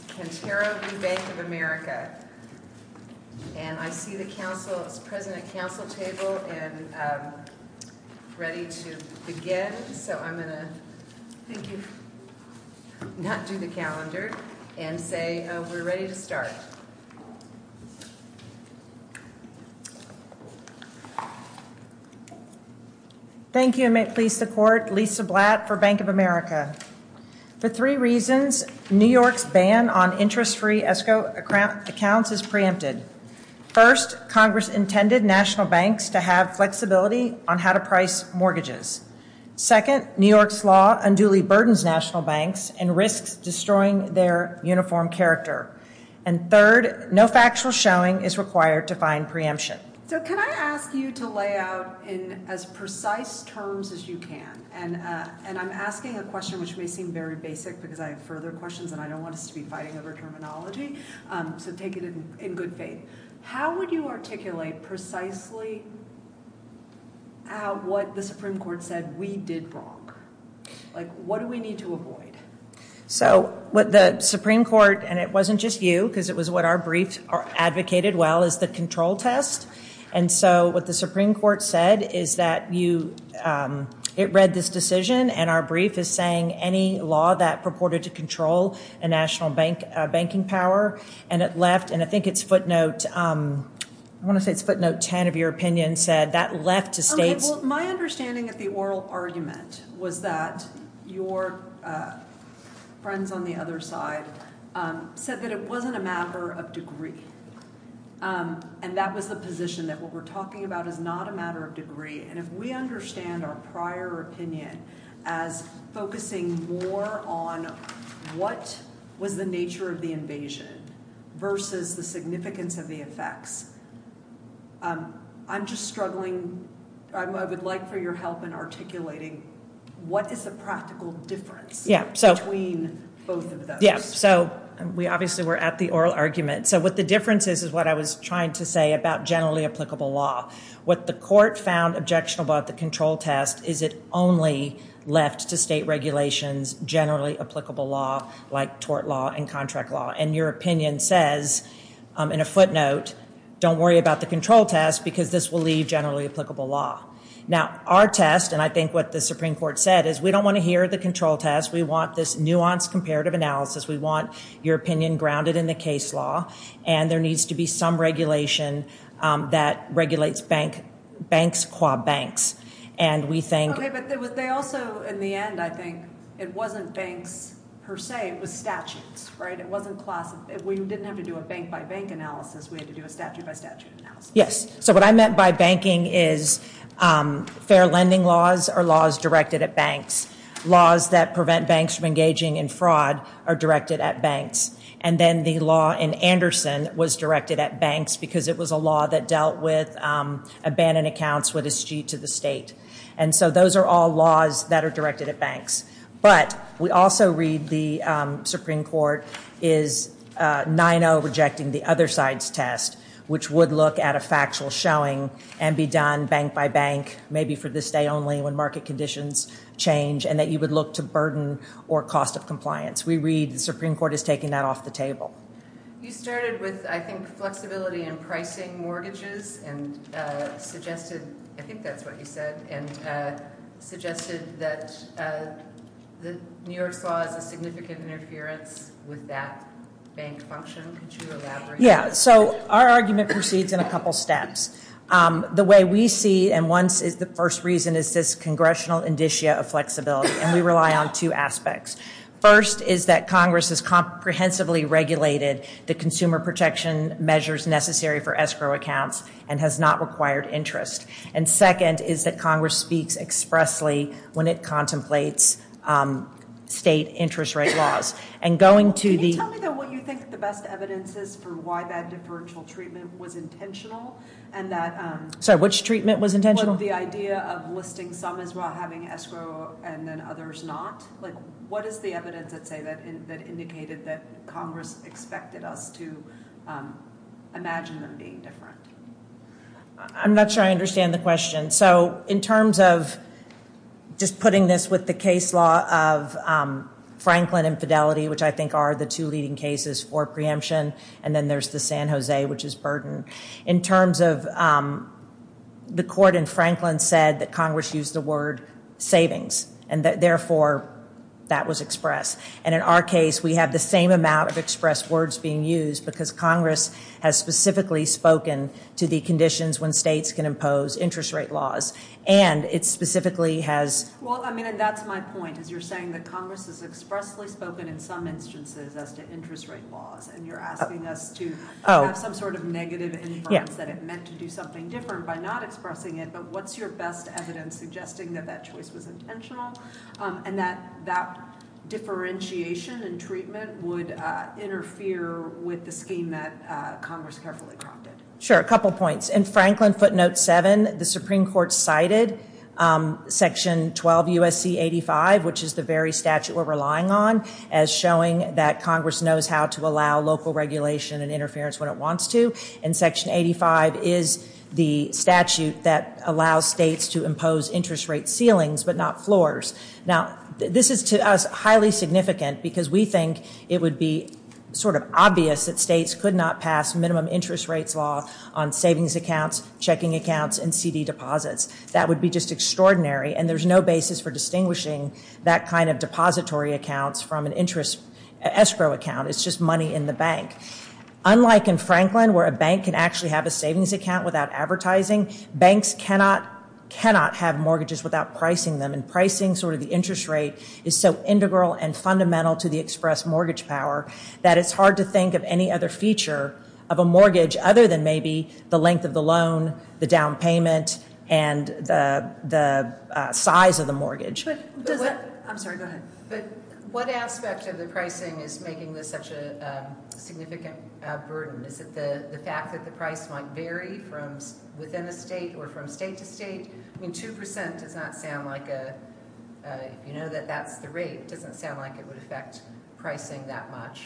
We'll begin on May 24, 2008. Mrs. Kintaro v. Bank of America. I see the council is present at the council table which is ready to begin. I will thank you if you will not move the calendar. We are ready to start. Thank you. Thank you and may it please the court, Lisa Blatt for Bank of America. For three reasons, New York's ban on interest-free escrow accounts is preempted. First, Congress intended national banks to have flexibility on how to price mortgages. Second, New York's law unduly burdens national banks and risks destroying their uniform character. And third, no factual showing is required to find preemption. So can I ask you to lay out in as precise terms as you can, and I'm asking a question which may seem very basic because I have further questions and I don't want us to be fighting over terminology, so take it in good faith. How would you articulate precisely what the Supreme Court said we did wrong? Like what do we need to avoid? So what the Supreme Court, and it wasn't just you because it was what our brief advocated well, is the control test. And so what the Supreme Court said is that it read this decision and our brief is saying any law that purported to control a national banking power and it left and I think it's footnote 10 of your opinion said that left to states. Well, my understanding of the oral argument was that your friends on the other side said that it wasn't a matter of degree. And that was the position that what we're talking about is not a matter of degree. And if we understand our prior opinion as focusing more on what was the nature of the invasion versus the significance of the effects, I'm just struggling. I would like for your help in articulating what is the practical difference between both of those. Yeah, so we obviously were at the oral argument. So what the difference is is what I was trying to say about generally applicable law. What the court found objectionable at the control test is it only left to state regulations, generally applicable law like tort law and contract law. And your opinion says in a footnote don't worry about the control test because this will leave generally applicable law. Now, our test and I think what the Supreme Court said is we don't want to hear the control test. We want this nuanced comparative analysis. We want your opinion grounded in the case law. And there needs to be some regulation that regulates banks qua banks. And we think. Okay, but they also in the end I think it wasn't banks per se. It was statutes. It wasn't class. We didn't have to do a bank-by-bank analysis. We had to do a statute-by-statute analysis. Yes. So what I meant by banking is fair lending laws are laws directed at banks. Laws that prevent banks from engaging in fraud are directed at banks. And then the law in Anderson was directed at banks because it was a law that dealt with abandoned accounts with a sheet to the state. And so those are all laws that are directed at banks. But we also read the Supreme Court is 9-0 rejecting the other side's test, which would look at a factual showing and be done bank-by-bank, maybe for this day only when market conditions change, and that you would look to burden or cost of compliance. We read the Supreme Court is taking that off the table. You started with, I think, flexibility in pricing mortgages and suggested, I think that's what you said, and suggested that New York's law is a significant interference with that bank function. Could you elaborate on that? Yeah. So our argument proceeds in a couple steps. The way we see it, and the first reason is this congressional indicia of flexibility, and we rely on two aspects. First is that Congress has comprehensively regulated the consumer protection measures necessary for escrow accounts and has not required interest. And second is that Congress speaks expressly when it contemplates state interest rate laws. Can you tell me what you think the best evidence is for why that deferential treatment was intentional? Sorry, which treatment was intentional? The idea of listing some as having escrow and then others not. What is the evidence, let's say, that indicated that Congress expected us to imagine them being different? I'm not sure I understand the question. So in terms of just putting this with the case law of Franklin infidelity, which I think are the two leading cases for preemption, and then there's the San Jose, which is burden. In terms of the court in Franklin said that Congress used the word savings and therefore that was expressed. And in our case, we have the same amount of expressed words being used because Congress has specifically spoken to the conditions when states can impose interest rate laws. And it specifically has... Well, I mean, and that's my point, is you're saying that Congress has expressly spoken in some instances as to interest rate laws, and you're asking us to have some sort of negative inference that it meant to do something different by not expressing it. But what's your best evidence suggesting that that choice was intentional and that that differentiation and treatment would interfere with the scheme that Congress carefully prompted? Sure, a couple points. In Franklin footnote 7, the Supreme Court cited Section 12 U.S.C. 85, which is the very statute we're relying on, as showing that Congress knows how to allow local regulation and interference when it wants to. And Section 85 is the statute that allows states to impose interest rate ceilings but not floors. Now, this is to us highly significant because we think it would be sort of obvious that states could not pass minimum interest rates law on savings accounts, checking accounts, and CD deposits. That would be just extraordinary, and there's no basis for distinguishing that kind of depository accounts from an interest escrow account. It's just money in the bank. Unlike in Franklin, where a bank can actually have a savings account without advertising, banks cannot have mortgages without pricing them, and pricing sort of the interest rate is so integral and fundamental to the express mortgage power that it's hard to think of any other feature of a mortgage other than maybe the length of the loan, the down payment, and the size of the mortgage. I'm sorry, go ahead. But what aspect of the pricing is making this such a significant burden? Is it the fact that the price might vary from within a state or from state to state? I mean, 2% does not sound like a, if you know that that's the rate, it doesn't sound like it would affect pricing that much.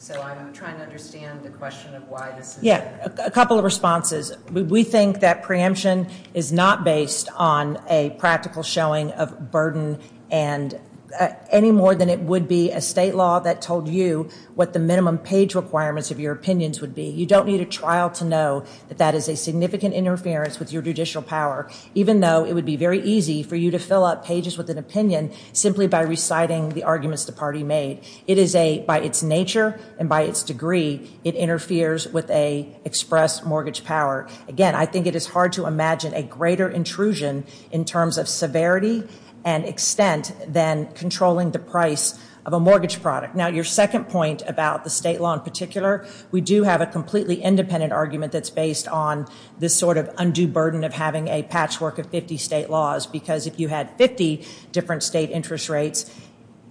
So I'm trying to understand the question of why this is. Yeah, a couple of responses. We think that preemption is not based on a practical showing of burden any more than it would be a state law that told you what the minimum page requirements of your opinions would be. You don't need a trial to know that that is a significant interference with your judicial power, even though it would be very easy for you to fill up pages with an opinion simply by reciting the arguments the party made. It is a, by its nature and by its degree, it interferes with a express mortgage power. Again, I think it is hard to imagine a greater intrusion in terms of severity and extent than controlling the price of a mortgage product. Now, your second point about the state law in particular, we do have a completely independent argument that's based on this sort of undue burden of having a patchwork of 50 state laws, because if you had 50 different state interest rates,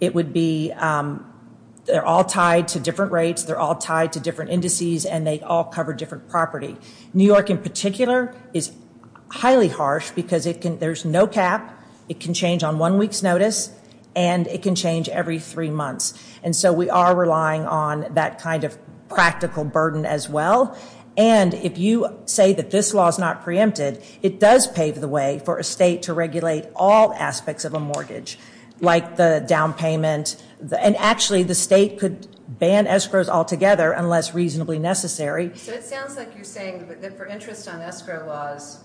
it would be, they're all tied to different rates, they're all tied to different indices, and they all cover different property. New York in particular is highly harsh because it can, there's no cap, it can change on one week's notice, and it can change every three months. And so we are relying on that kind of practical burden as well. And if you say that this law is not preempted, it does pave the way for a state to regulate all aspects of a mortgage, like the down payment, and actually the state could ban escrows altogether unless reasonably necessary. So it sounds like you're saying that for interest on escrow laws,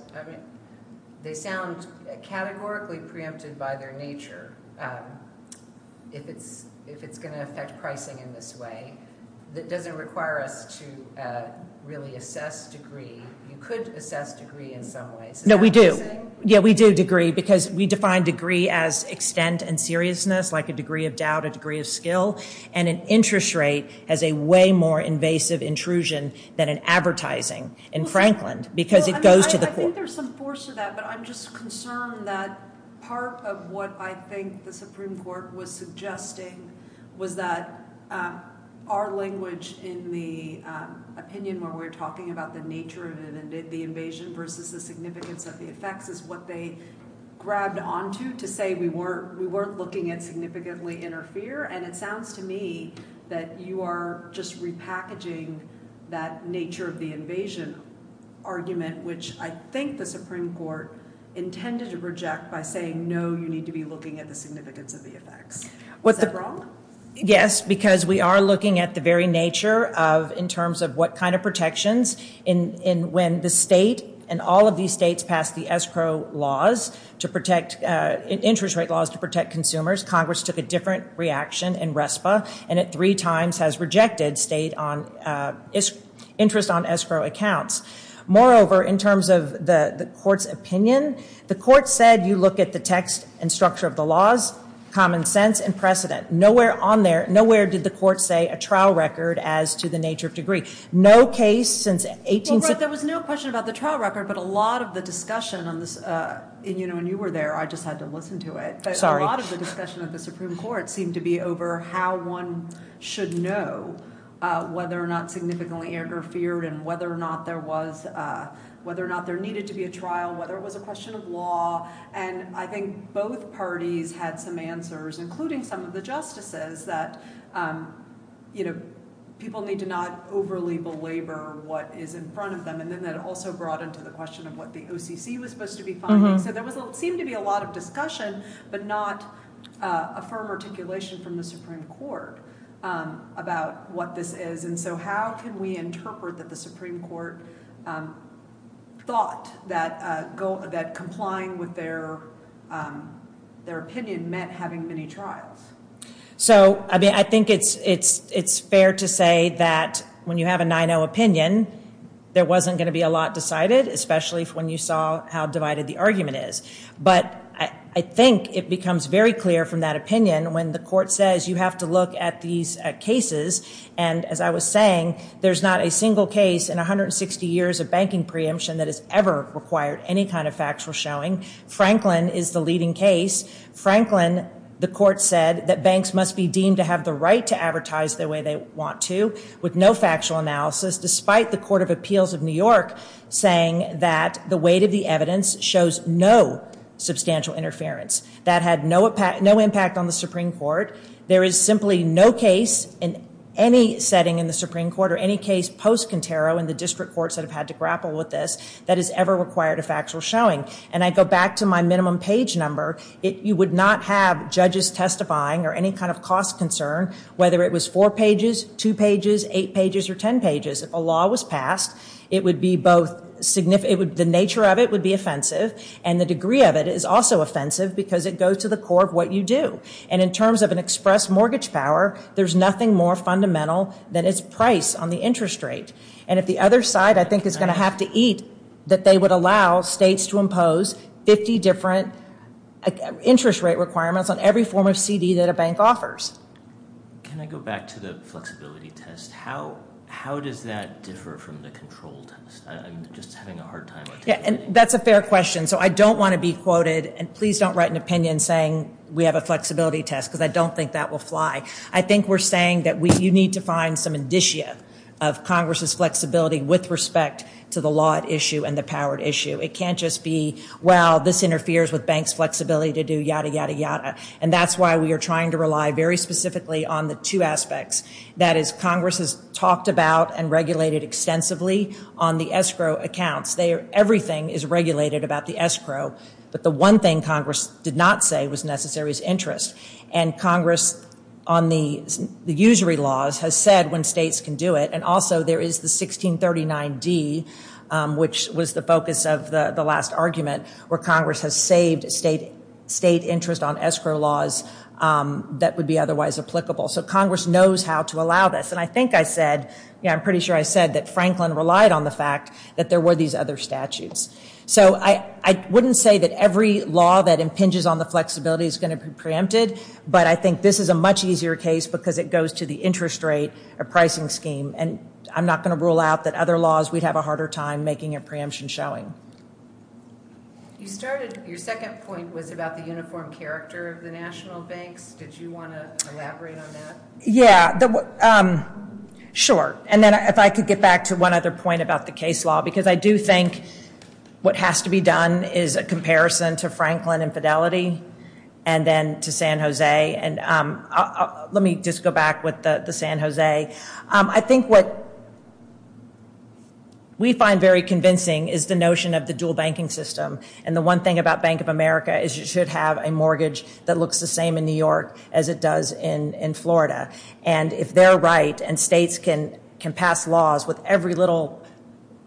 they sound categorically preempted by their nature, if it's going to affect pricing in this way, that doesn't require us to really assess degree. You could assess degree in some ways. No, we do. Yeah, we do degree, because we define degree as extent and seriousness, like a degree of doubt, a degree of skill, and an interest rate as a way more invasive intrusion than an advertising in Franklin, because it goes to the court. I think there's some force to that, but I'm just concerned that part of what I think the Supreme Court was suggesting was that our language in the opinion where we're talking about the nature of the invasion versus the significance of the effects is what they grabbed onto to say we weren't looking at significantly interfere, and it sounds to me that you are just repackaging that nature of the invasion argument, which I think the Supreme Court intended to reject by saying, no, you need to be looking at the significance of the effects. Is that wrong? Yes, because we are looking at the very nature of in terms of what kind of protections when the state and all of these states pass the escrow laws to protect, interest rate laws to protect consumers. Congress took a different reaction in RESPA and it three times has rejected interest on escrow accounts. Moreover, in terms of the court's opinion, the court said you look at the text and structure of the laws, common sense, and precedent. Nowhere on there, nowhere did the court say a trial record as to the nature of degree. No case since 18- Well, there was no question about the trial record, but a lot of the discussion on this, and you know when you were there, I just had to listen to it. Sorry. A lot of the discussion of the Supreme Court seemed to be over how one should know whether or not significantly interfered and whether or not there was, whether or not there needed to be a trial, whether it was a question of law, and I think both parties had some answers, including some of the justices, that people need to not overly belabor what is in front of them, and then that also brought into the question of what the OCC was supposed to be finding. So there seemed to be a lot of discussion, but not a firm articulation from the Supreme Court about what this is, and so how can we interpret that the Supreme Court thought that complying with their opinion meant having many trials? So I think it's fair to say that when you have a 9-0 opinion, there wasn't going to be a lot decided, especially when you saw how divided the argument is. But I think it becomes very clear from that opinion when the court says you have to look at these cases, and as I was saying, there's not a single case in 160 years of banking preemption that has ever required any kind of factual showing. Franklin is the leading case. Franklin, the court said that banks must be deemed to have the right to advertise the way they want to with no factual analysis, despite the Court of Appeals of New York saying that the weight of the evidence shows no substantial interference. That had no impact on the Supreme Court. There is simply no case in any setting in the Supreme Court or any case post-Contero and the district courts that have had to grapple with this that has ever required a factual showing. And I go back to my minimum page number. You would not have judges testifying or any kind of cost concern, whether it was four pages, two pages, eight pages, or ten pages. If a law was passed, the nature of it would be offensive, and the degree of it is also offensive because it goes to the core of what you do. And in terms of an express mortgage power, there's nothing more fundamental than its price on the interest rate. And if the other side, I think, is going to have to eat, that they would allow states to impose 50 different interest rate requirements on every form of CD that a bank offers. Can I go back to the flexibility test? How does that differ from the control test? I'm just having a hard time with it. That's a fair question. So I don't want to be quoted, and please don't write an opinion saying we have a flexibility test because I don't think that will fly. I think we're saying that you need to find some indicia of Congress's flexibility with respect to the law at issue and the power at issue. It can't just be, well, this interferes with banks' flexibility to do yada, yada, yada. And that's why we are trying to rely very specifically on the two aspects. That is, Congress has talked about and regulated extensively on the escrow accounts. Everything is regulated about the escrow, but the one thing Congress did not say was necessary was interest. And Congress on the usury laws has said when states can do it. And also there is the 1639D, which was the focus of the last argument, where Congress has saved state interest on escrow laws that would be otherwise applicable. So Congress knows how to allow this. And I think I said, yeah, I'm pretty sure I said that Franklin relied on the fact that there were these other statutes. So I wouldn't say that every law that impinges on the flexibility is going to be preempted, but I think this is a much easier case because it goes to the interest rate or pricing scheme. And I'm not going to rule out that other laws we'd have a harder time making a preemption showing. You started, your second point was about the uniform character of the national banks. Did you want to elaborate on that? Yeah. Sure. And then if I could get back to one other point about the case law because I do think what has to be done is a comparison to Franklin and Fidelity and then to San Jose. And let me just go back with the San Jose. I think what we find very convincing is the notion of the dual banking system. And the one thing about Bank of America is you should have a mortgage that looks the same in New York as it does in Florida. And if they're right and states can pass laws with every little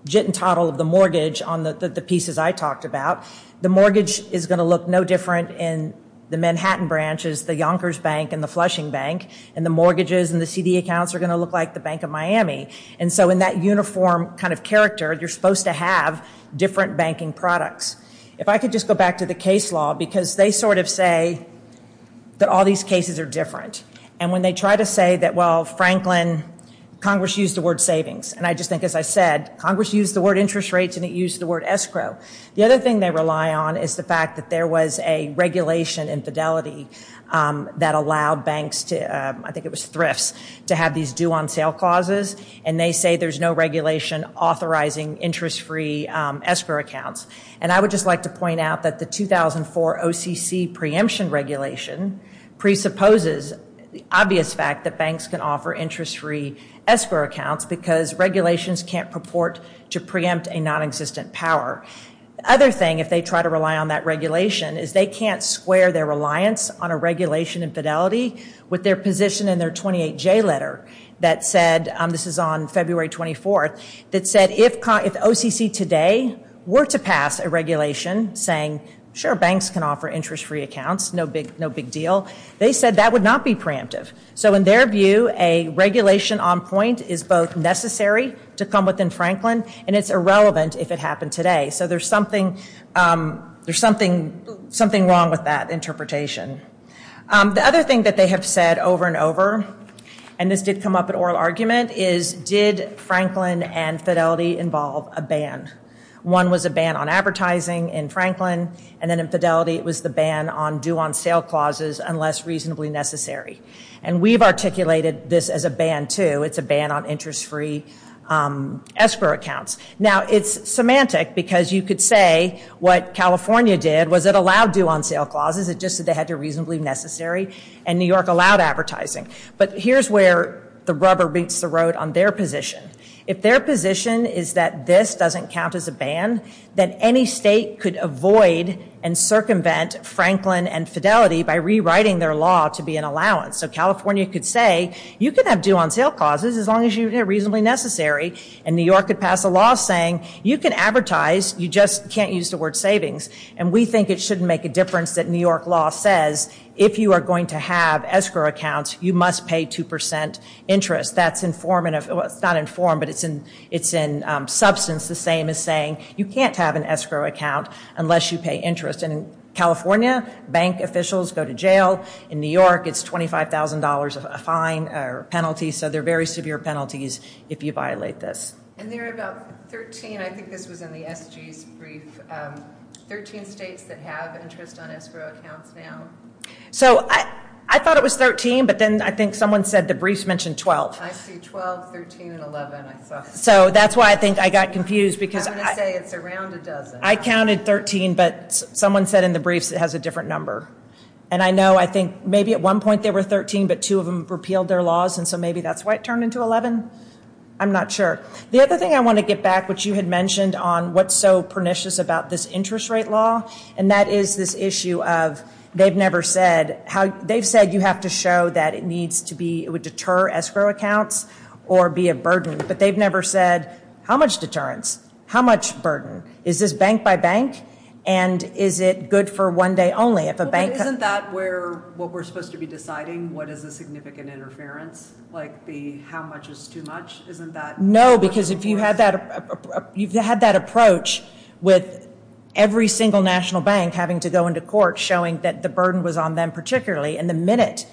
jit and toddle of the mortgage on the pieces I talked about, the mortgage is going to look no different in the Manhattan branches, the Yonkers Bank and the Flushing Bank. And the mortgages and the CD accounts are going to look like the Bank of Miami. And so in that uniform kind of character, you're supposed to have different banking products. If I could just go back to the case law because they sort of say that all these cases are different. And when they try to say that, well, Franklin, Congress used the word savings. And I just think as I said, Congress used the word interest rates and it used the word escrow. The other thing they rely on is the fact that there was a regulation in Fidelity that allowed banks to, I think it was thrifts, to have these due on sale clauses. And they say there's no regulation authorizing interest-free escrow accounts. And I would just like to point out that the 2004 OCC preemption regulation presupposes the obvious fact that banks can offer interest-free escrow accounts because regulations can't purport to preempt a non-existent power. The other thing if they try to rely on that regulation is they can't square their reliance on a regulation in Fidelity with their position in their 28J letter that said, this is on February 24th, that said if OCC today were to pass a regulation saying, sure, banks can offer interest-free accounts, no big deal, they said that would not be preemptive. So in their view, a regulation on point is both necessary to come within Franklin and it's irrelevant if it happened today. So there's something wrong with that interpretation. The other thing that they have said over and over, and this did come up in oral argument, is did Franklin and Fidelity involve a ban? One was a ban on advertising in Franklin, and then in Fidelity it was the ban on due-on-sale clauses unless reasonably necessary. And we've articulated this as a ban, too. It's a ban on interest-free escrow accounts. Now, it's semantic because you could say what California did was it allowed due-on-sale clauses, it just said they had to reasonably necessary, and New York allowed advertising. But here's where the rubber meets the road on their position. If their position is that this doesn't count as a ban, then any state could avoid and circumvent Franklin and Fidelity by rewriting their law to be an allowance. So California could say you can have due-on-sale clauses as long as you're reasonably necessary, and New York could pass a law saying you can advertise, you just can't use the word savings, and we think it shouldn't make a difference that New York law says if you are going to have escrow accounts, you must pay 2% interest. That's not in form, but it's in substance the same as saying you can't have an escrow account unless you pay interest. And in California, bank officials go to jail. In New York, it's $25,000 fine or penalty, so there are very severe penalties if you violate this. And there are about 13, I think this was in the SG's brief, 13 states that have interest on escrow accounts now. So I thought it was 13, but then I think someone said the briefs mentioned 12. I see 12, 13, and 11. So that's why I think I got confused. I'm going to say it's around a dozen. I counted 13, but someone said in the briefs it has a different number. And I know I think maybe at one point there were 13, but two of them repealed their laws, and so maybe that's why it turned into 11. I'm not sure. The other thing I want to get back, which you had mentioned, on what's so pernicious about this interest rate law, and that is this issue of they've said you have to show that it would deter escrow accounts or be a burden, but they've never said how much deterrence, how much burden. Is this bank by bank, and is it good for one day only? Isn't that what we're supposed to be deciding, what is a significant interference, like the how much is too much? No, because if you had that approach with every single national bank having to go into court, showing that the burden was on them particularly, and the minute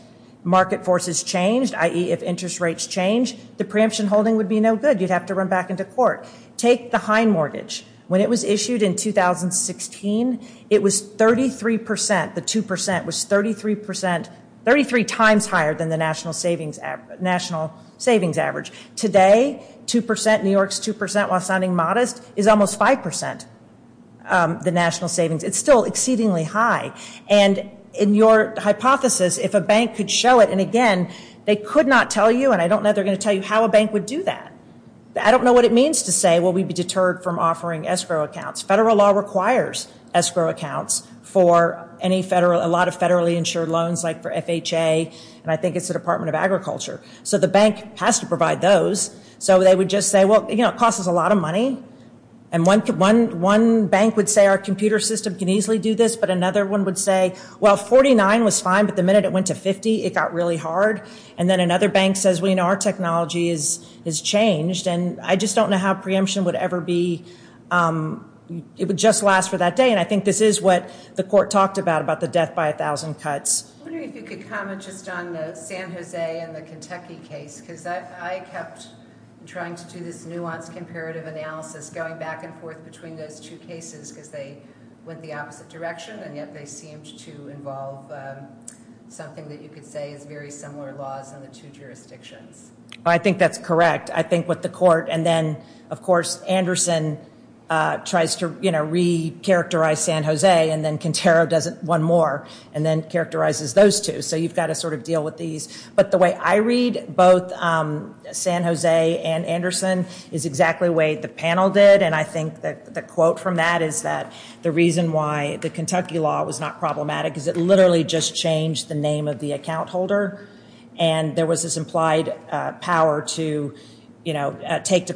market forces changed, i.e. if interest rates changed, the preemption holding would be no good. You'd have to run back into court. Take the Hein mortgage. When it was issued in 2016, it was 33 percent. The 2 percent was 33 percent, 33 times higher than the national savings average. Today, 2 percent, New York's 2 percent, while sounding modest, is almost 5 percent, the national savings. It's still exceedingly high, and in your hypothesis, if a bank could show it, and again, they could not tell you, and I don't know if they're going to tell you how a bank would do that. I don't know what it means to say, well, we'd be deterred from offering escrow accounts. Federal law requires escrow accounts for a lot of federally insured loans, like for FHA, and I think it's the Department of Agriculture. So the bank has to provide those. So they would just say, well, you know, it costs us a lot of money, and one bank would say our computer system can easily do this, but another one would say, well, 49 was fine, but the minute it went to 50, it got really hard, and then another bank says, well, you know, our technology has changed, and I just don't know how preemption would ever be, it would just last for that day, and I think this is what the court talked about, about the death by 1,000 cuts. I'm wondering if you could comment just on the San Jose and the Kentucky case, because I kept trying to do this nuanced comparative analysis, going back and forth between those two cases, because they went the opposite direction, and yet they seemed to involve something that you could say is very similar laws in the two jurisdictions. I think that's correct. I think what the court, and then, of course, Anderson tries to, you know, recharacterize San Jose, and then Quintero does it one more, and then characterizes those two. So you've got to sort of deal with these. But the way I read both San Jose and Anderson is exactly the way the panel did, and I think the quote from that is that the reason why the Kentucky law was not problematic is it literally just changed the name of the account holder, and there was this implied power to, you know, take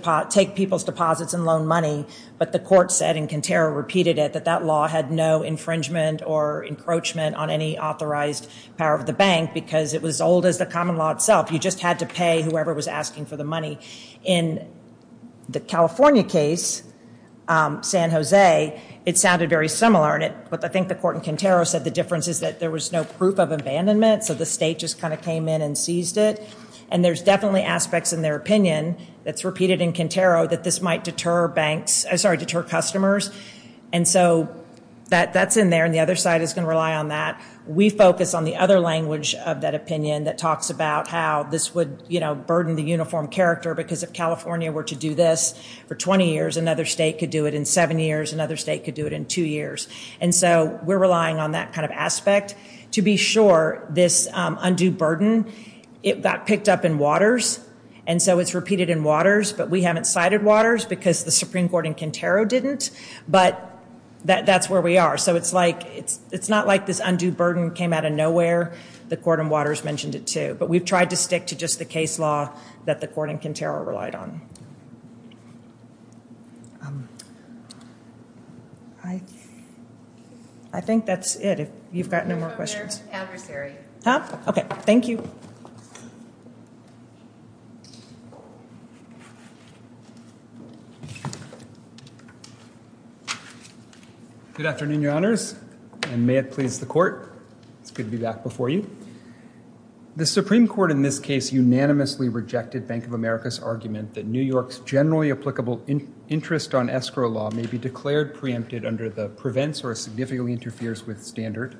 people's deposits and loan money, but the court said, and Quintero repeated it, that that law had no infringement or encroachment on any authorized power of the bank, because it was as old as the common law itself. You just had to pay whoever was asking for the money. In the California case, San Jose, it sounded very similar, but I think the court in Quintero said the difference is that there was no proof of abandonment, so the state just kind of came in and seized it, and there's definitely aspects in their opinion that's repeated in Quintero that this might deter customers, and so that's in there, and the other side is going to rely on that. We focus on the other language of that opinion that talks about how this would, you know, burden the uniform character because if California were to do this for 20 years, another state could do it in seven years, another state could do it in two years, and so we're relying on that kind of aspect to be sure this undue burden, it got picked up in waters, and so it's repeated in waters, but we haven't cited waters because the Supreme Court in Quintero didn't, but that's where we are, so it's like it's not like this undue burden came out of nowhere. The court in waters mentioned it too, but we've tried to stick to just the case law that the court in Quintero relied on. I think that's it. If you've got no more questions. Okay, thank you. Good afternoon, Your Honors, and may it please the court, it's good to be back before you. The Supreme Court in this case unanimously rejected Bank of America's argument that New York's generally applicable interest on escrow law may be declared preempted under the prevents or significantly interferes with standard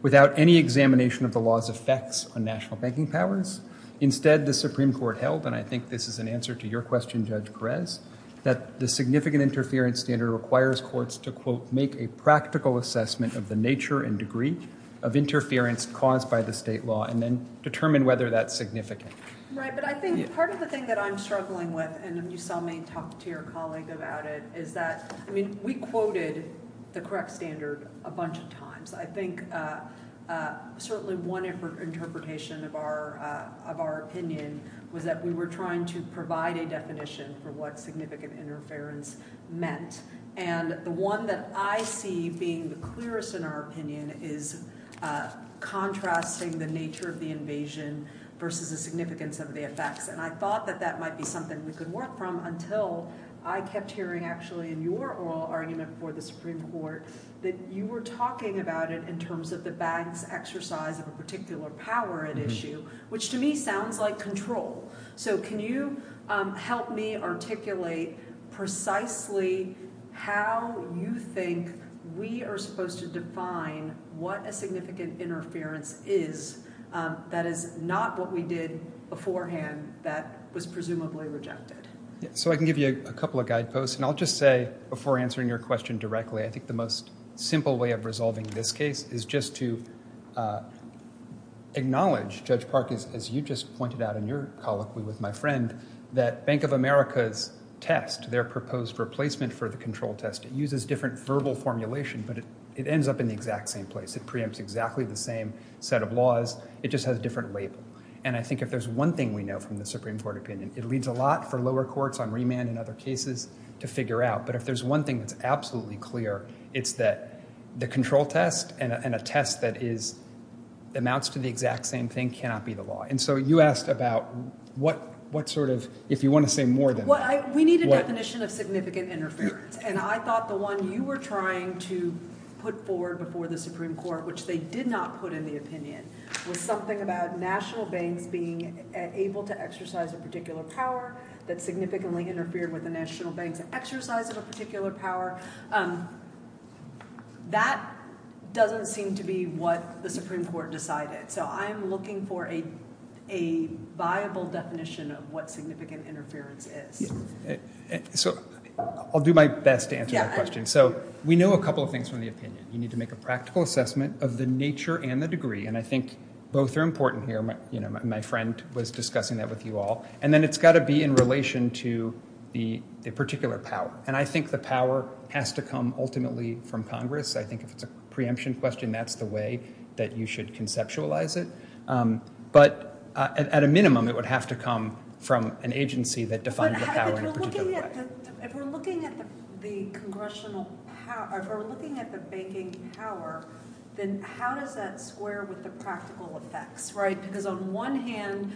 without any examination of the law's effects on national banking powers. Instead, the Supreme Court held, and I think this is an answer to your question, Judge Perez, that the significant interference standard requires courts to, quote, make a practical assessment of the nature and degree of interference caused by the state law and then determine whether that's significant. Right, but I think part of the thing that I'm struggling with, and you saw me talk to your colleague about it, is that, I mean, we quoted the correct standard a bunch of times. I think certainly one interpretation of our opinion was that we were trying to provide a definition for what significant interference meant. And the one that I see being the clearest in our opinion is contrasting the nature of the invasion versus the significance of the effects. And I thought that that might be something we could work from until I kept hearing, actually, in your oral argument for the Supreme Court, that you were talking about it in terms of the banks' exercise of a particular power at issue, which to me sounds like control. So can you help me articulate precisely how you think we are supposed to define what a significant interference is that is not what we did beforehand that was presumably rejected? So I can give you a couple of guideposts, and I'll just say, before answering your question directly, I think the most simple way of resolving this case is just to acknowledge, Judge Park, as you just pointed out in your colloquy with my friend, that Bank of America's test, their proposed replacement for the control test, it uses different verbal formulation, but it ends up in the exact same place. It preempts exactly the same set of laws, it just has a different label. And I think if there's one thing we know from the Supreme Court opinion, it leads a lot for lower courts on remand and other cases to figure out, but if there's one thing that's absolutely clear, it's that the control test and a test that amounts to the exact same thing cannot be the law. And so you asked about what sort of, if you want to say more than that. We need a definition of significant interference, and I thought the one you were trying to put forward before the Supreme Court, which they did not put in the opinion, was something about national banks being able to exercise a particular power that significantly interfered with the national banks' exercise of a particular power. That doesn't seem to be what the Supreme Court decided. So I'm looking for a viable definition of what significant interference is. So I'll do my best to answer that question. So we know a couple of things from the opinion. You need to make a practical assessment of the nature and the degree, and I think both are important here. My friend was discussing that with you all. And then it's got to be in relation to the particular power, and I think the power has to come ultimately from Congress. I think if it's a preemption question, that's the way that you should conceptualize it. But at a minimum, it would have to come from an agency that defines the power in a particular way. If we're looking at the congressional power, if we're looking at the banking power, then how does that square with the practical effects? Because on one hand,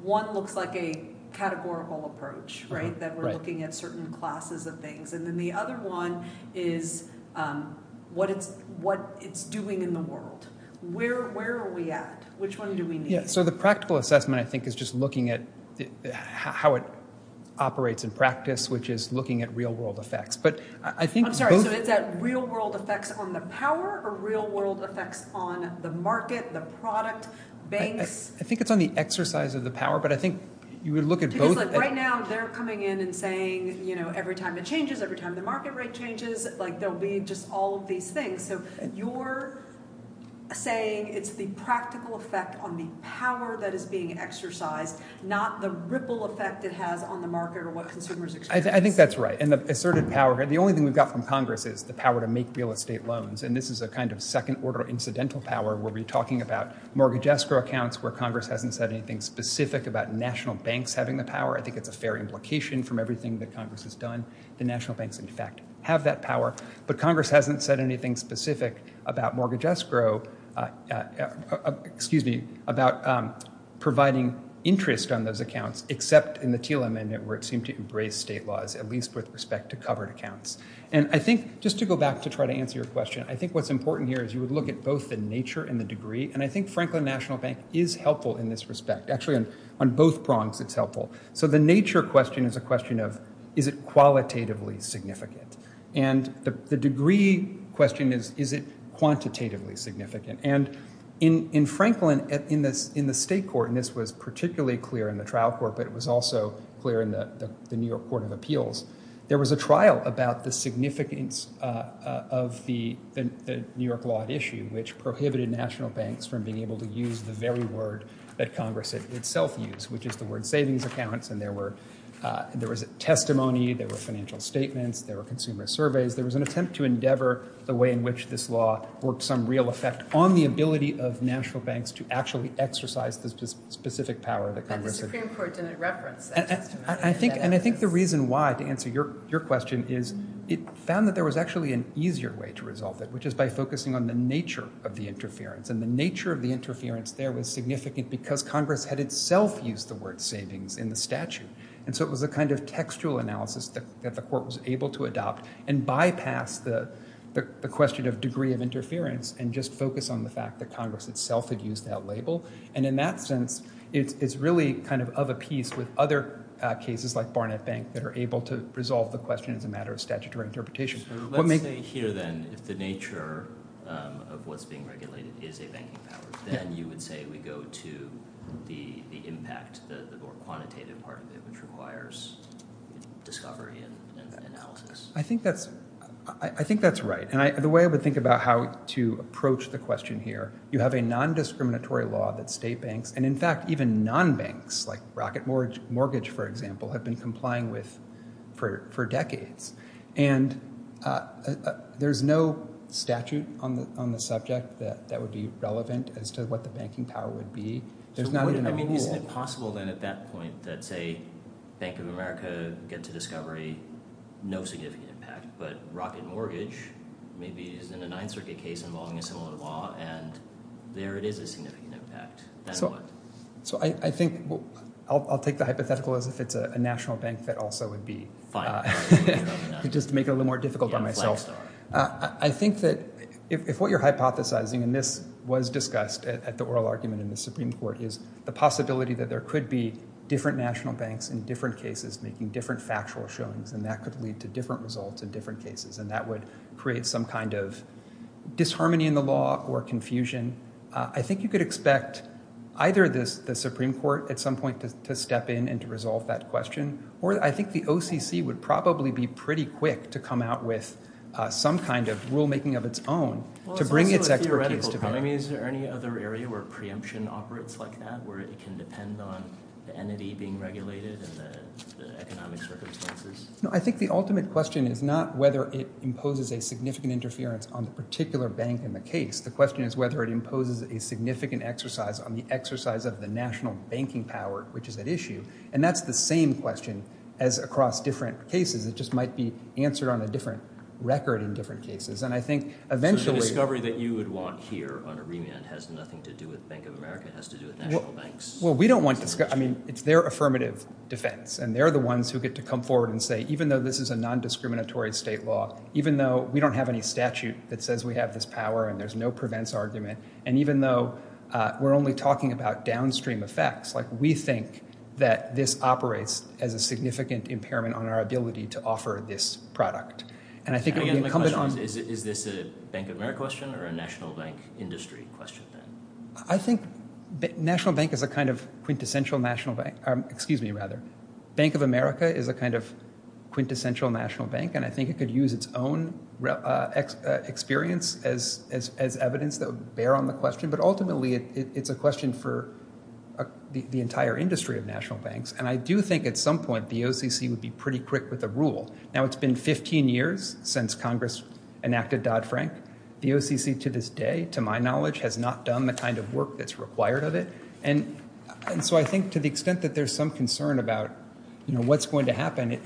one looks like a categorical approach, that we're looking at certain classes of things. And then the other one is what it's doing in the world. Where are we at? Which one do we need? So the practical assessment, I think, is just looking at how it operates in practice, which is looking at real-world effects. I'm sorry, so is that real-world effects on the power or real-world effects on the market, the product, banks? I think it's on the exercise of the power, but I think you would look at both. Because, like, right now they're coming in and saying, you know, every time it changes, every time the market rate changes, like, they'll be just all of these things. So you're saying it's the practical effect on the power that is being exercised, not the ripple effect it has on the market or what consumers expect. I think that's right. And the asserted power, the only thing we've got from Congress is the power to make real estate loans. And this is a kind of second-order incidental power where we're talking about mortgage escrow accounts where Congress hasn't said anything specific about national banks having the power. I think it's a fair implication from everything that Congress has done. The national banks, in fact, have that power. But Congress hasn't said anything specific about mortgage escrow, excuse me, about providing interest on those accounts, except in the TLM, where it seemed to embrace state laws, at least with respect to covered accounts. And I think, just to go back to try to answer your question, I think what's important here is you would look at both the nature and the degree. And I think Franklin National Bank is helpful in this respect. Actually, on both prongs it's helpful. So the nature question is a question of, is it qualitatively significant? And the degree question is, is it quantitatively significant? And in Franklin, in the state court, and this was particularly clear in the trial court, but it was also clear in the New York Court of Appeals, there was a trial about the significance of the New York law issue, which prohibited national banks from being able to use the very word that Congress itself used, which is the word savings accounts. And there was a testimony. There were financial statements. There were consumer surveys. There was an attempt to endeavor the way in which this law worked some real effect on the ability of national banks to actually exercise the specific power that Congress had. But the Supreme Court didn't reference that testimony. And I think the reason why, to answer your question, is it found that there was actually an easier way to resolve it, which is by focusing on the nature of the interference. And the nature of the interference there was significant because Congress had itself used the word savings in the statute. And so it was a kind of textual analysis that the court was able to adopt and bypass the question of degree of interference and just focus on the fact that Congress itself had used that label. And in that sense, it's really kind of of a piece with other cases like Barnett Bank that are able to resolve the question as a matter of statutory interpretation. Let's say here, then, if the nature of what's being regulated is a banking power, then you would say we go to the impact, the more quantitative part of it, which requires discovery and analysis. I think that's right. And the way I would think about how to approach the question here, you have a nondiscriminatory law that state banks, and in fact, even non-banks, like Rocket Mortgage, for example, have been complying with for decades. And there's no statute on the subject that would be relevant as to what the banking power would be. There's not even a rule. I mean, isn't it possible then at that point that, say, Bank of America gets a discovery, no significant impact, but Rocket Mortgage maybe is in a Ninth Circuit case involving a similar law, and there it is a significant impact. So I think I'll take the hypothetical as if it's a national bank that also would be. Just to make it a little more difficult on myself. I think that if what you're hypothesizing, and this was discussed at the oral argument in the Supreme Court, is the possibility that there could be different national banks in different cases making different factual showings, and that could lead to different results in different cases, and that would create some kind of disharmony in the law or confusion, I think you could expect either the Supreme Court at some point to step in and to resolve that question, or I think the OCC would probably be pretty quick to come out with some kind of rulemaking of its own to bring its expertise together. Is there any other area where preemption operates like that, where it can depend on the entity being regulated and the economic circumstances? No, I think the ultimate question is not whether it imposes a significant interference on the particular bank in the case. The question is whether it imposes a significant exercise on the exercise of the national banking power, which is at issue, and that's the same question as across different cases. It just might be answered on a different record in different cases, and I think eventually— So the discovery that you would want here on a remand has nothing to do with Bank of America, it has to do with national banks? Well, we don't want—I mean, it's their affirmative defense, and they're the ones who get to come forward and say, even though this is a nondiscriminatory state law, even though we don't have any statute that says we have this power and there's no prevents argument, and even though we're only talking about downstream effects, we think that this operates as a significant impairment on our ability to offer this product. And I think it would be incumbent on— Again, my question is, is this a Bank of America question or a national bank industry question, then? I think national bank is a kind of quintessential national bank— excuse me, rather. Bank of America is a kind of quintessential national bank, and I think it could use its own experience as evidence that would bear on the question, but ultimately it's a question for the entire industry of national banks. And I do think at some point the OCC would be pretty quick with a rule. Now, it's been 15 years since Congress enacted Dodd-Frank. The OCC to this day, to my knowledge, has not done the kind of work that's required of it. And so I think to the extent that there's some concern about what's going to happen,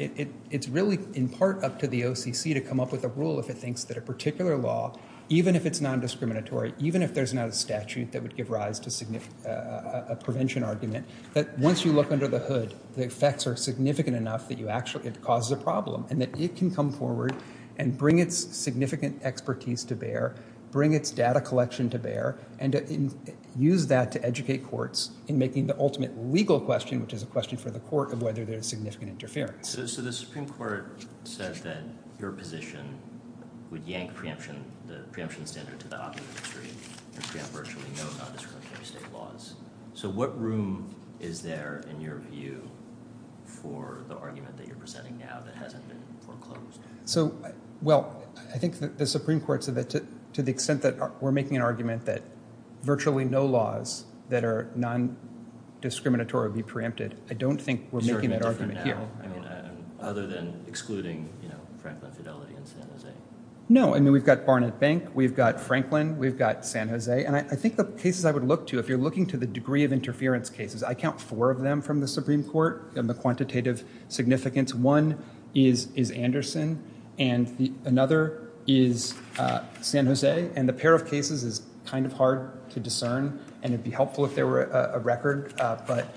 it's really in part up to the OCC to come up with a rule if it thinks that a particular law, even if it's nondiscriminatory, even if there's not a statute that would give rise to a prevention argument, that once you look under the hood, the effects are significant enough that it causes a problem and that it can come forward and bring its significant expertise to bear, bring its data collection to bear, and use that to educate courts in making the ultimate legal question, which is a question for the court of whether there's significant interference. So the Supreme Court says that your position would yank the preemption standard to the OCC industry and preempt virtually no nondiscriminatory state laws. So what room is there in your view for the argument that you're presenting now that hasn't been foreclosed? So, well, I think the Supreme Court said that to the extent that we're making an argument that virtually no laws that are nondiscriminatory would be preempted, I don't think we're making that argument here. I mean, other than excluding, you know, Franklin Fidelity and San Jose. No, I mean, we've got Barnett Bank, we've got Franklin, we've got San Jose, and I think the cases I would look to, if you're looking to the degree of interference cases, I count four of them from the Supreme Court in the quantitative significance. One is Anderson, and another is San Jose, and the pair of cases is kind of hard to discern, and it would be helpful if there were a record, but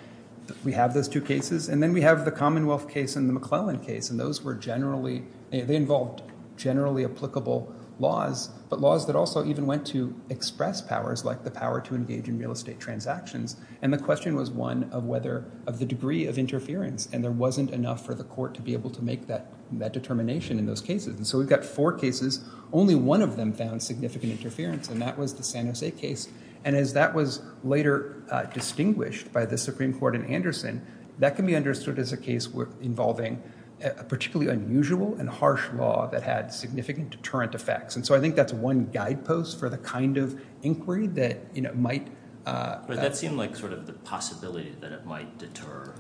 we have those two cases. And then we have the Commonwealth case and the McClellan case, and those were generally, they involved generally applicable laws, but laws that also even went to express powers, like the power to engage in real estate transactions. And the question was one of whether, of the degree of interference, and there wasn't enough for the court to be able to make that determination in those cases. And so we've got four cases, only one of them found significant interference, and that was the San Jose case. And as that was later distinguished by the Supreme Court in Anderson, that can be understood as a case involving a particularly unusual and harsh law that had significant deterrent effects. And so I think that's one guidepost for the kind of inquiry that, you know, might. But that seemed like sort of the possibility that it might deter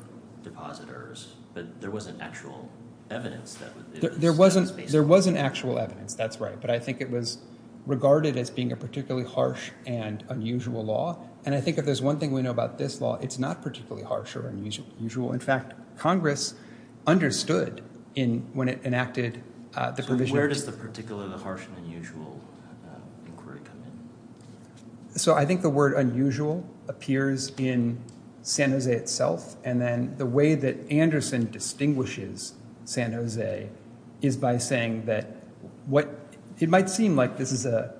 depositors, but there wasn't actual evidence. There wasn't actual evidence, that's right, but I think it was regarded as being a particularly harsh and unusual law. And I think if there's one thing we know about this law, it's not particularly harsh or unusual. In fact, Congress understood when it enacted the provision. So where does the particular harsh and unusual inquiry come in? So I think the word unusual appears in San Jose itself, and then the way that Anderson distinguishes San Jose is by saying that what, it might seem like this is a,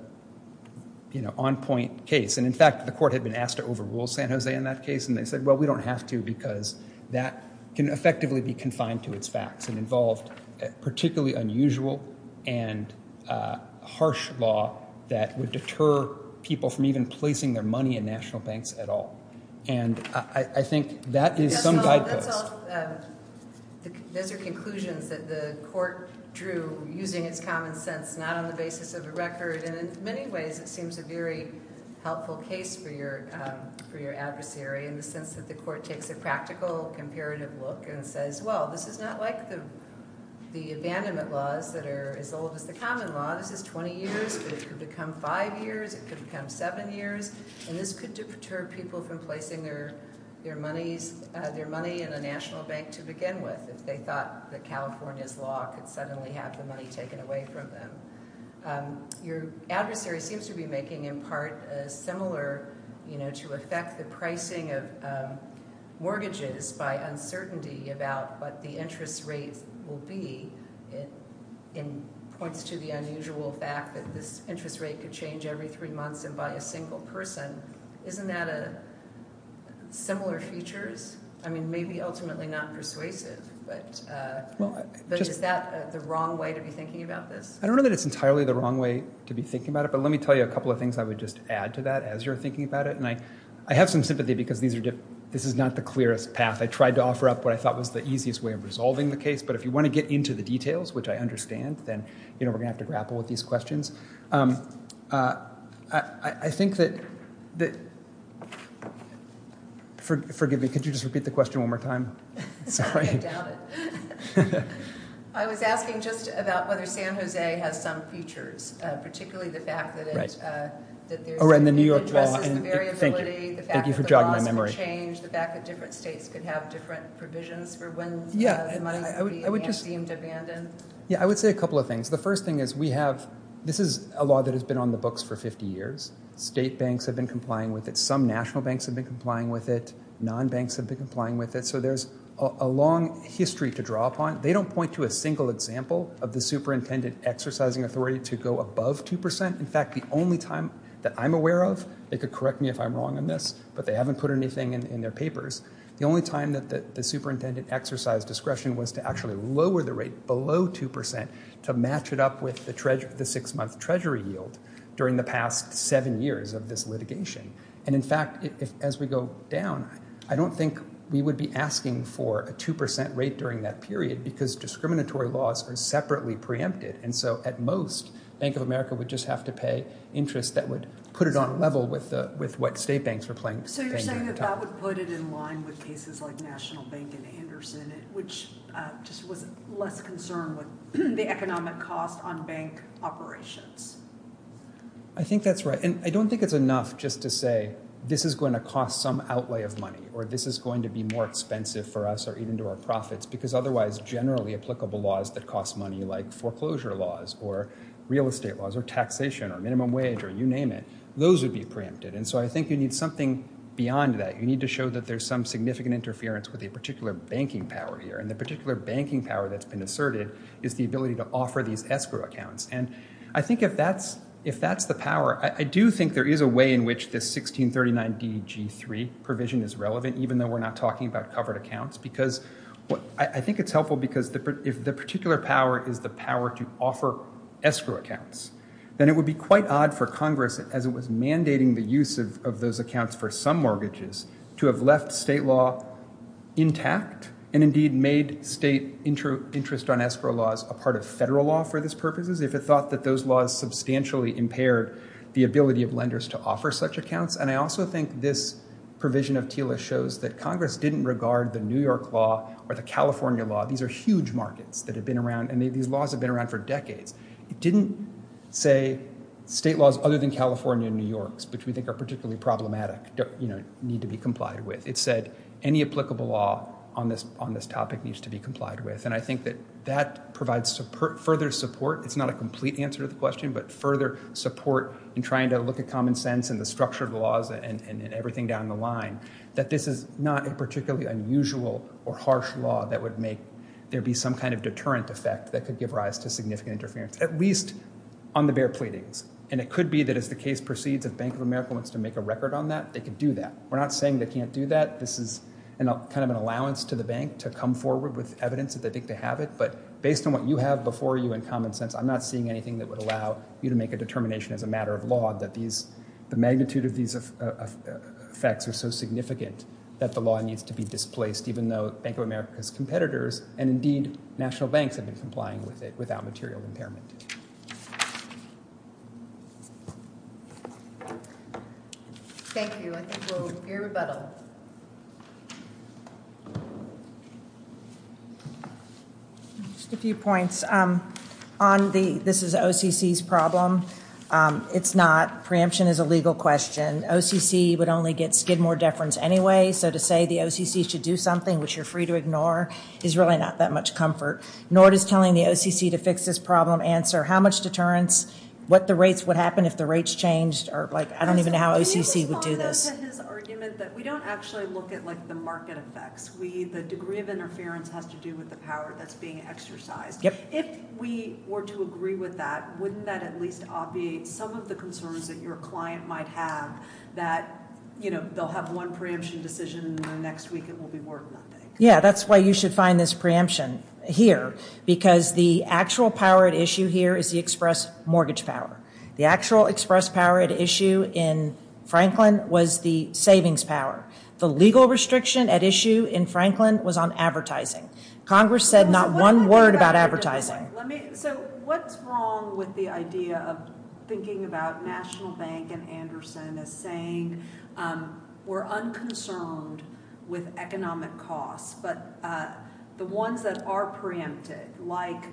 you know, on-point case. And, in fact, the court had been asked to overrule San Jose in that case, and they said, well, we don't have to because that can effectively be confined to its facts and involved particularly unusual and harsh law that would deter people from even placing their money in national banks at all. And I think that is some guidepost. Those are conclusions that the court drew using its common sense, not on the basis of a record, and in many ways it seems a very helpful case for your adversary in the sense that the court takes a practical, comparative look and says, well, this is not like the abandonment laws that are as old as the common law. This is 20 years, but it could become five years, it could become seven years, and this could deter people from placing their money in a national bank to begin with, if they thought that California's law could suddenly have the money taken away from them. Your adversary seems to be making in part a similar, you know, to affect the pricing of mortgages by uncertainty about what the interest rates will be. It points to the unusual fact that this interest rate could change every three months and by a single person. Isn't that a similar feature? I mean, maybe ultimately not persuasive, but is that the wrong way to be thinking about this? I don't know that it's entirely the wrong way to be thinking about it, but let me tell you a couple of things I would just add to that as you're thinking about it, and I have some sympathy because this is not the clearest path. I tried to offer up what I thought was the easiest way of resolving the case, but if you want to get into the details, which I understand, then, you know, we're going to have to grapple with these questions. I think that – forgive me, could you just repeat the question one more time? Sorry. I doubt it. I was asking just about whether San Jose has some features, particularly the fact that it addresses the variability, the fact that the laws could change, the fact that different states could have different provisions for when the money would be abandoned. Yeah, I would say a couple of things. The first thing is we have – this is a law that has been on the books for 50 years. State banks have been complying with it. Some national banks have been complying with it. Non-banks have been complying with it. So there's a long history to draw upon. They don't point to a single example of the superintendent exercising authority to go above 2%. In fact, the only time that I'm aware of – they could correct me if I'm wrong on this, but they haven't put anything in their papers – the only time that the superintendent exercised discretion was to actually lower the rate below 2% to match it up with the six-month treasury yield during the past seven years of this litigation. And in fact, as we go down, I don't think we would be asking for a 2% rate during that period because discriminatory laws are separately preempted. And so at most, Bank of America would just have to pay interest that would put it on level with what state banks were paying at the time. So you're saying that that would put it in line with cases like National Bank and Anderson, which just was less concerned with the economic cost on bank operations. I think that's right. And I don't think it's enough just to say this is going to cost some outlay of money or this is going to be more expensive for us or even to our profits because otherwise generally applicable laws that cost money like foreclosure laws or real estate laws or taxation or minimum wage or you name it, those would be preempted. And so I think you need something beyond that. You need to show that there's some significant interference with a particular banking power here. And the particular banking power that's been asserted is the ability to offer these escrow accounts. And I think if that's the power, I do think there is a way in which this 1639 DG3 provision is relevant even though we're not talking about covered accounts because I think it's helpful because if the particular power is the power to offer escrow accounts, then it would be quite odd for Congress as it was mandating the use of those accounts for some mortgages to have left state law intact and indeed made state interest on escrow laws a part of federal law for these purposes if it thought that those laws substantially impaired the ability of lenders to offer such accounts. And I also think this provision of TILA shows that Congress didn't regard the New York law or the California law. These are huge markets that have been around and these laws have been around for decades. It didn't say state laws other than California and New York's which we think are particularly problematic, you know, need to be complied with. It said any applicable law on this topic needs to be complied with. And I think that that provides further support. It's not a complete answer to the question, but further support in trying to look at common sense and the structure of the laws and everything down the line that this is not a particularly unusual or harsh law that would make there be some kind of deterrent effect that could give rise to significant interference, at least on the bare pleadings. And it could be that as the case proceeds, if Bank of America wants to make a record on that, they could do that. We're not saying they can't do that. This is kind of an allowance to the bank to come forward with evidence that they think they have it. But based on what you have before you in common sense, I'm not seeing anything that would allow you to make a determination as a matter of law that the magnitude of these effects are so significant that the law needs to be displaced, even though Bank of America's competitors and indeed national banks have been complying with it without material impairment. Thank you. I think we'll hear rebuttal. Just a few points. This is OCC's problem. It's not. Preemption is a legal question. OCC would only give more deference anyway, so to say the OCC should do something which you're free to ignore is really not that much comfort. Nor does telling the OCC to fix this problem answer how much deterrence, what the rates would happen if the rates changed, or I don't even know how OCC would do this. Can you respond to his argument that we don't actually look at the market effects. The degree of interference has to do with the power that's being exercised. If we were to agree with that, wouldn't that at least obviate some of the concerns that your client might have, that they'll have one preemption decision and then next week it will be more than that. Yeah, that's why you should find this preemption here, because the actual power at issue here is the express mortgage power. The actual express power at issue in Franklin was the savings power. The legal restriction at issue in Franklin was on advertising. Congress said not one word about advertising. So what's wrong with the idea of thinking about National Bank and Anderson as saying we're unconcerned with economic costs, but the ones that are preempted, like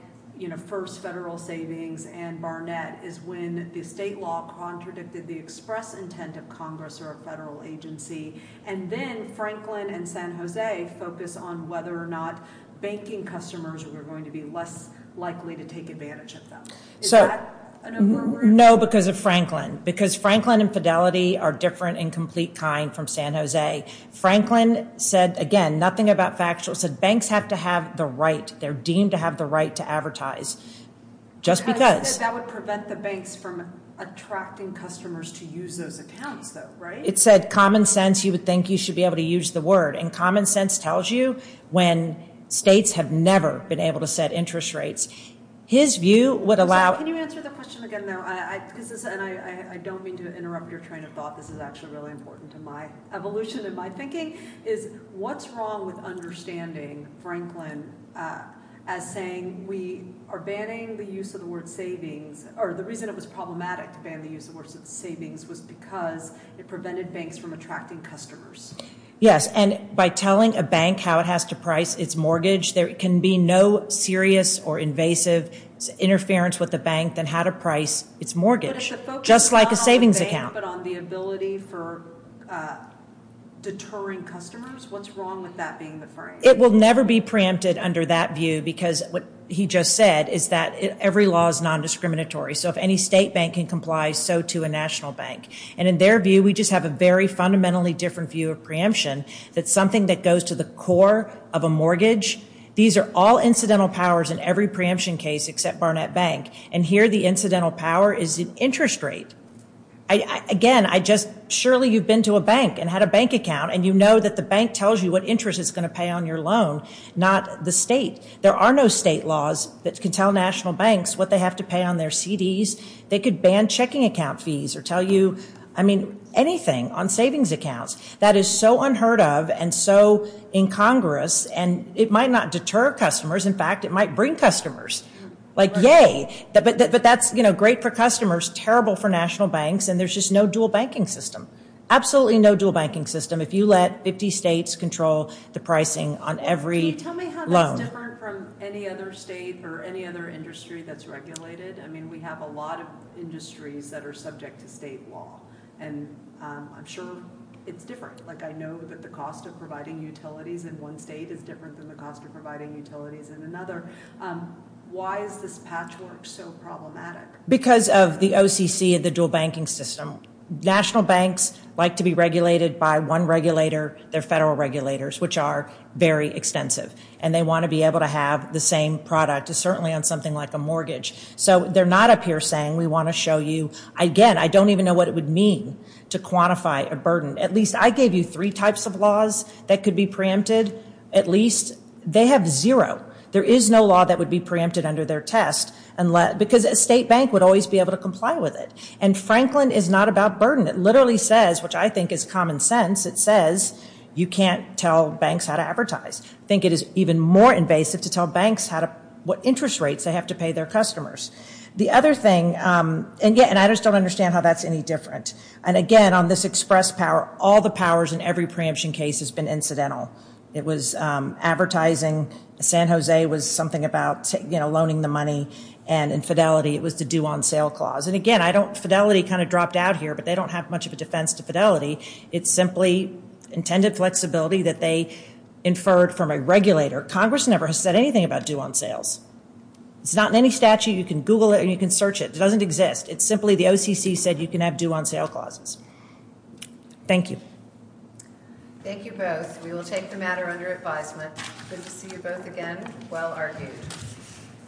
first federal savings and Barnett, is when the state law contradicted the express intent of Congress or a federal agency, and then Franklin and San Jose focus on whether or not banking customers were going to be less likely to take advantage of them. Is that an overreaction? No, because of Franklin. Because Franklin and Fidelity are different in complete kind from San Jose. Franklin said, again, nothing about factual. It said banks have to have the right. They're deemed to have the right to advertise, just because. That would prevent the banks from attracting customers to use those accounts, though, right? It said common sense. You would think you should be able to use the word, and common sense tells you when states have never been able to set interest rates. Can you answer the question again, though? I don't mean to interrupt your train of thought. This is actually really important to my evolution in my thinking, is what's wrong with understanding Franklin as saying we are banning the use of the word savings, or the reason it was problematic to ban the use of the word savings was because it prevented banks from attracting customers? Yes, and by telling a bank how it has to price its mortgage, there can be no serious or invasive interference with the bank than how to price its mortgage, just like a savings account. But if the focus is not on the bank but on the ability for deterring customers, what's wrong with that being the phrase? It will never be preempted under that view, because what he just said is that every law is nondiscriminatory. So if any state bank can comply, so too a national bank. And in their view, we just have a very fundamentally different view of preemption, that something that goes to the core of a mortgage, these are all incidental powers in every preemption case except Barnett Bank, and here the incidental power is the interest rate. Again, surely you've been to a bank and had a bank account, and you know that the bank tells you what interest it's going to pay on your loan, not the state. There are no state laws that can tell national banks what they have to pay on their CDs. They could ban checking account fees or tell you anything on savings accounts. That is so unheard of and so incongruous, and it might not deter customers. In fact, it might bring customers. Like, yay. But that's great for customers, terrible for national banks, and there's just no dual banking system. Absolutely no dual banking system if you let 50 states control the pricing on every loan. Can you tell me how that's different from any other state or any other industry that's regulated? I mean, we have a lot of industries that are subject to state law, and I'm sure it's different. Like, I know that the cost of providing utilities in one state is different than the cost of providing utilities in another. Why is this patchwork so problematic? Because of the OCC of the dual banking system. National banks like to be regulated by one regulator, their federal regulators, which are very extensive, and they want to be able to have the same product, certainly on something like a mortgage. So they're not up here saying we want to show you. Again, I don't even know what it would mean to quantify a burden. At least I gave you three types of laws that could be preempted. At least they have zero. There is no law that would be preempted under their test, because a state bank would always be able to comply with it. And Franklin is not about burden. It literally says, which I think is common sense, it says you can't tell banks how to advertise. I think it is even more invasive to tell banks what interest rates they have to pay their customers. The other thing, and I just don't understand how that's any different. And again, on this express power, all the powers in every preemption case has been incidental. It was advertising, San Jose was something about, you know, loaning the money, and in Fidelity it was the due on sale clause. And again, Fidelity kind of dropped out here, but they don't have much of a defense to Fidelity. It's simply intended flexibility that they inferred from a regulator. Congress never has said anything about due on sales. It's not in any statute. You can Google it or you can search it. It doesn't exist. It's simply the OCC said you can have due on sale clauses. Thank you. Thank you both. We will take the matter under advisement. Good to see you both again. Well argued.